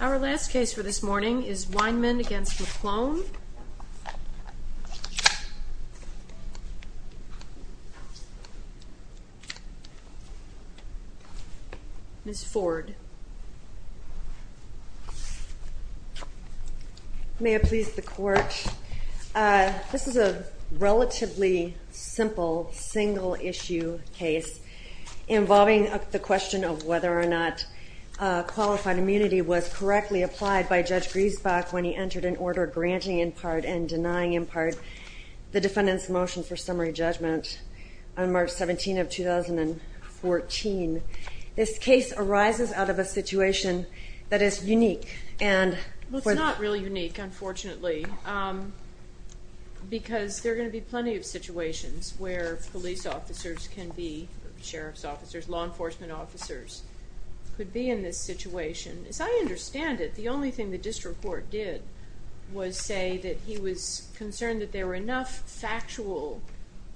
Our last case for this morning is Weinmann v. McClone. Ms. Ford. May it please the Court, this is a relatively simple, single-issue case involving the question of whether or not unqualified immunity was correctly applied by Judge Griesbach when he entered an order granting, in part, and denying, in part, the defendant's motion for summary judgment on March 17, 2014. This case arises out of a situation that is unique, and... Well, it's not really unique, unfortunately, because there are going to be plenty of situations where police officers can be, sheriff's officers, law enforcement officers, could be in this situation. As I understand it, the only thing the district court did was say that he was concerned that there were enough factual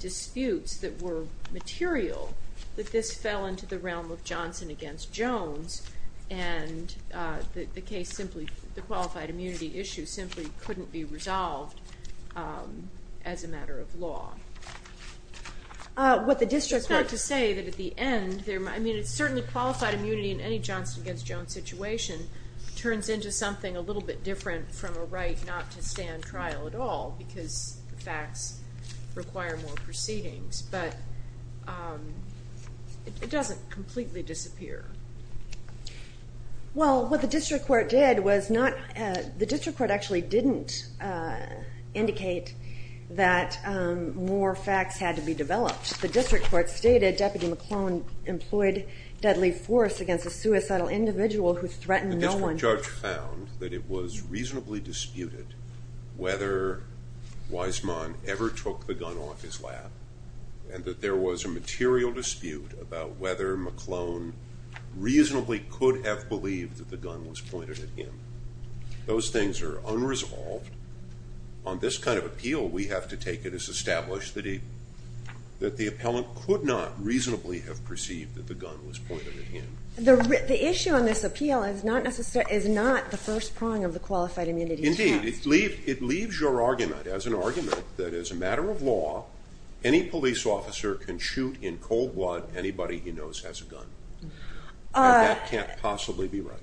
disputes that were material that this fell into the realm of Johnson against Jones, and that the case simply, the qualified immunity issue simply couldn't be resolved as a matter of law. What the district court... It's not to say that at the end, I mean, it's certainly qualified immunity in any Johnson against Jones situation turns into something a little bit different from a right not to stand trial at all, because the facts require more proceedings, but it doesn't completely disappear. Well, what the district court did was not, the district court actually didn't indicate that more facts had to be developed. The district court stated Deputy McClellan employed deadly force against a suicidal individual who threatened no one. The district judge found that it was reasonably disputed whether Weisman ever took the gun off his lap, and that there was a material dispute about whether McClellan reasonably could have believed that the gun was pointed at him. Those things are unresolved. On this kind of appeal, we have to take it as established that the appellant could not reasonably have perceived that the gun was pointed at him. The issue on this appeal is not the first prong of the qualified immunity test. Indeed, it leaves your argument as an argument that as a matter of law, any police officer can shoot in cold blood anybody he knows has a gun. And that can't possibly be right.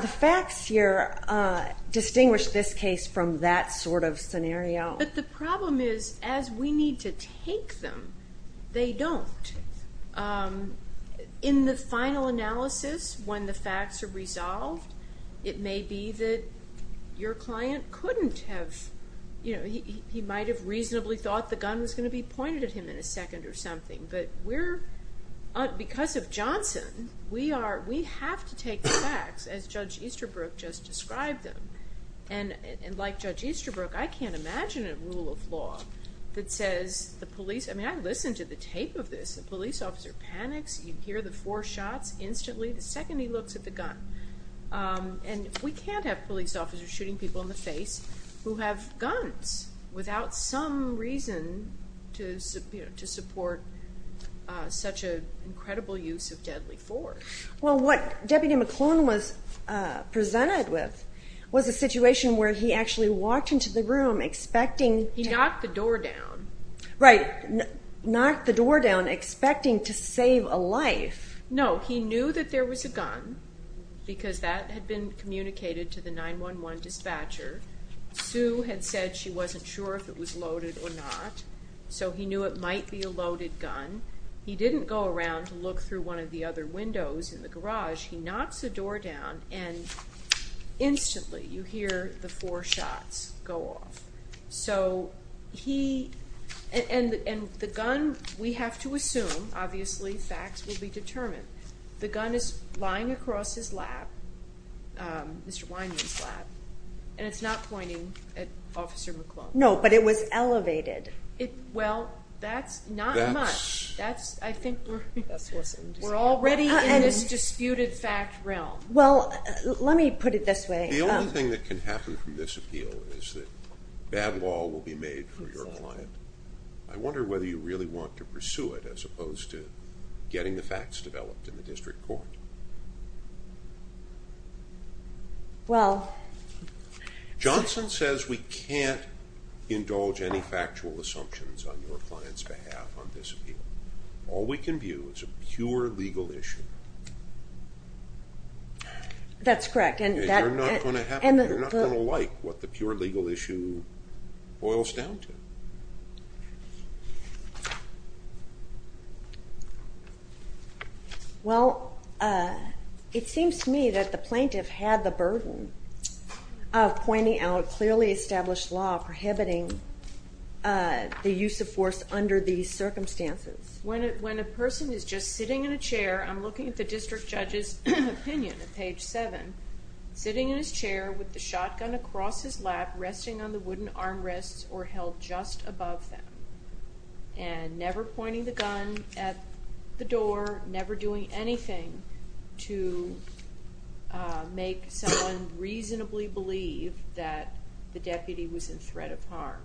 The facts here distinguish this case from that sort of scenario. But the problem is, as we need to take them, they don't. In the final analysis, when the facts are resolved, it may be that your client couldn't have, he might have reasonably thought the gun was going to be pointed at him in a second or something. But because of Johnson, we have to take the facts, as Judge Easterbrook just described them. And like Judge Easterbrook, I can't imagine a rule of law that says the police, I mean, I listened to the tape of this, the police officer panics, you hear the four shots instantly, the second he looks at the gun. And we can't have police officers shooting people in the face who have guns without some reason to support such an incredible use of deadly force. Well, what Deputy McClone was presented with was a situation where he actually walked into the room expecting- He knocked the door down. Right, knocked the door down expecting to save a life. No, he knew that there was a gun because that had been communicated to the 911 dispatcher. Sue had said she wasn't sure if it was loaded or not. So he knew it might be a loaded gun. He didn't go around to look through one of the other windows in the garage. He knocks the door down and instantly you hear the four shots go off. So he, and the gun, we have to assume, obviously facts will be determined. The gun is lying across his lap, Mr. Weinman's lap. And it's not pointing at Officer McClone. No, but it was elevated. Well, that's not much. That's, I think we're already in this disputed fact realm. Well, let me put it this way. The only thing that can happen from this appeal is that bad law will be made for your client. I wonder whether you really want to pursue it as opposed to getting the facts developed in the district court. Well. Johnson says we can't indulge any factual assumptions on your client's behalf on this appeal. All we can view is a pure legal issue. That's correct. And you're not going to like what the pure legal issue boils down to. Well, it seems to me that the plaintiff had the burden of pointing out clearly established law prohibiting the use of force under these circumstances. When a person is just sitting in a chair, I'm looking at the district judge's opinion at page seven. Sitting in his chair with the shotgun across his lap, resting on the wooden armrests or held just above them. And never pointing the gun at the door, never doing anything to make someone reasonably believe that the deputy was in threat of harm.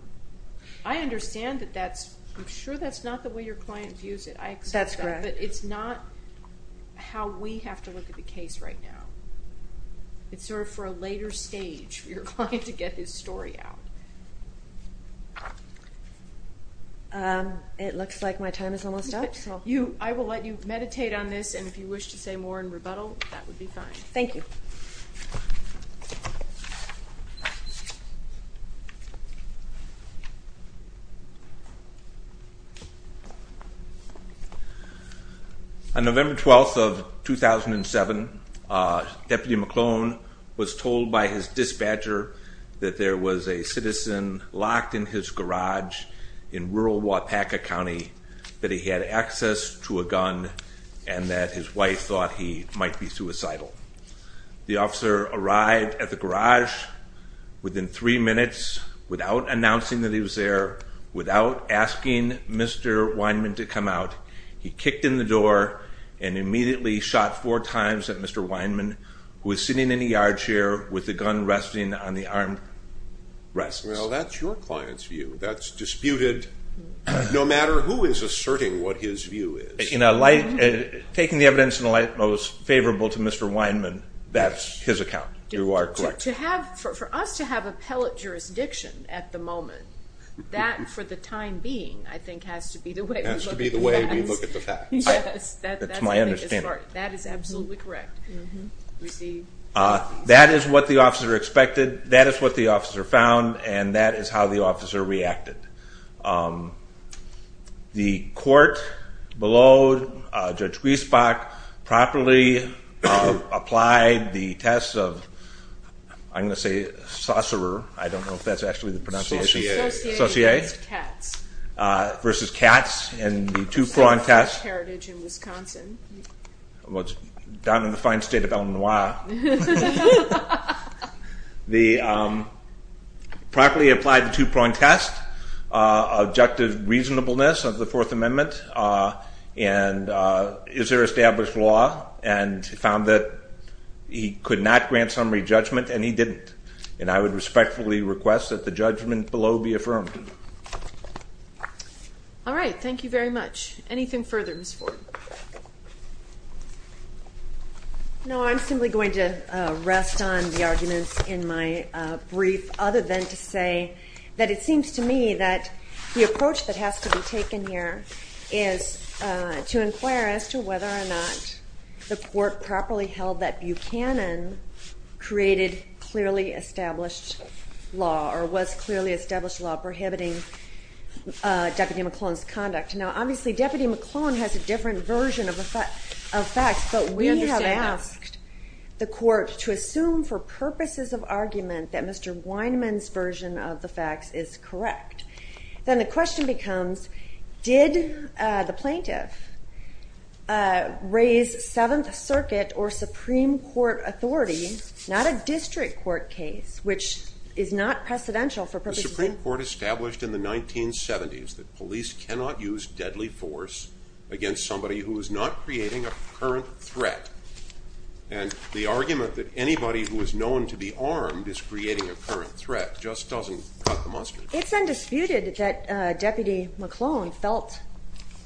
I understand that that's, I'm sure that's not the way your client views it. I accept that. That's correct. But it's not how we have to look at the case right now. It's sort of for a later stage for your client to get his story out. It looks like my time is almost up. I will let you meditate on this, and if you wish to say more in rebuttal, that would be fine. Thank you. Thank you. On November 12th of 2007, Deputy McClellan was told by his dispatcher that there was a citizen locked in his garage in rural Waupaca County that he had access to a gun and that his wife thought he might be suicidal. The officer arrived at the garage within three minutes without announcing that he was there, without asking Mr. Weinman to come out. He kicked in the door and immediately shot four times at Mr. Weinman, who was sitting in a yard chair with the gun resting on the armrests. Well, that's your client's view. That's disputed no matter who is asserting what his view is. Taking the evidence in a light that was favorable to Mr. Weinman, that's his account. You are correct. For us to have appellate jurisdiction at the moment, that for the time being, I think has to be the way we look at the facts. It has to be the way we look at the facts. That's my understanding. That is absolutely correct. That is what the officer expected. That is what the officer found, and that is how the officer reacted. The court below Judge Griesbach properly applied the test of, I'm going to say, saucerer. I don't know if that's actually the pronunciation. Saucier. Saucier. It's cats. Versus cats in the two-prawn test. It's a state-of-the-art heritage in Wisconsin. Well, it's down in the fine state of Illinois. The properly applied the two-prawn test, objective reasonableness of the Fourth Amendment, and is there established law, and found that he could not grant summary judgment, and he didn't. And I would respectfully request that the judgment below be affirmed. All right. Thank you very much. Anything further, Ms. Ford? No, I'm simply going to rest on the arguments in my brief, other than to say that it seems to me that the approach that has to be taken here is to inquire as to whether or not the court properly held that Buchanan created clearly established law, or was clearly established law prohibiting Deputy McClellan's conduct. Now, obviously, Deputy McClellan has a different version of facts, but we have asked the court to assume for purposes of argument that Mr. Weinman's version of the facts is correct. Then the question becomes, did the plaintiff raise Seventh Circuit or Supreme Court authority, not a district court case, which is not precedential for purposes of argument. It's undisputed that Deputy McClellan felt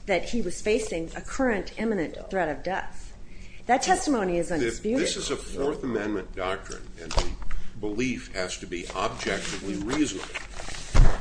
that he was facing a current imminent threat of death. That testimony is undisputed. This is a Fourth Amendment doctrine, and the belief has to be objectively reasonable.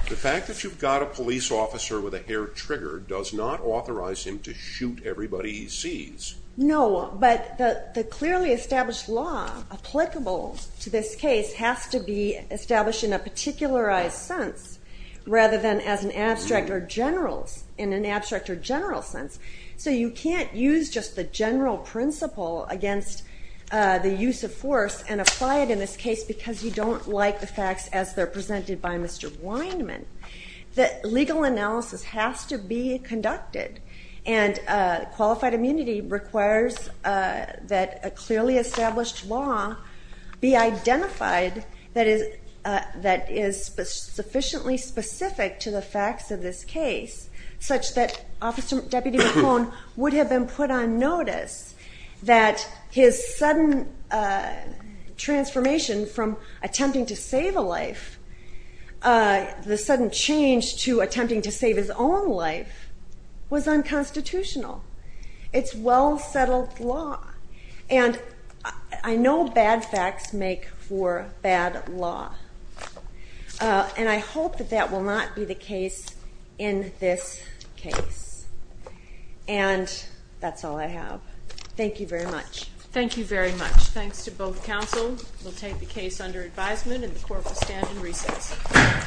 the fact that you've got a judge, does not authorize him to shoot everybody he sees. No, but the clearly established law applicable to this case has to be established in a particularized sense, rather than as an abstract or general, in an abstract or general sense. So you can't use just the general principle against the use of force and apply it in this case because you don't like the facts as they're presented by Mr. Weinman. The legal analysis has to be conducted, and qualified immunity requires that a clearly established law be identified that is sufficiently specific to the facts of this case, such that Deputy McClellan would have been put on notice that his sudden transformation from attempting to save a life, the sudden change to attempting to save his own life was unconstitutional. It's well-settled law, and I know bad facts make for bad law, and I hope that that will not be the case in this case. And that's all I have. Thank you very much. Thank you very much. Thanks to both counsel. We'll take the case under advisement, and the court will stand in recess.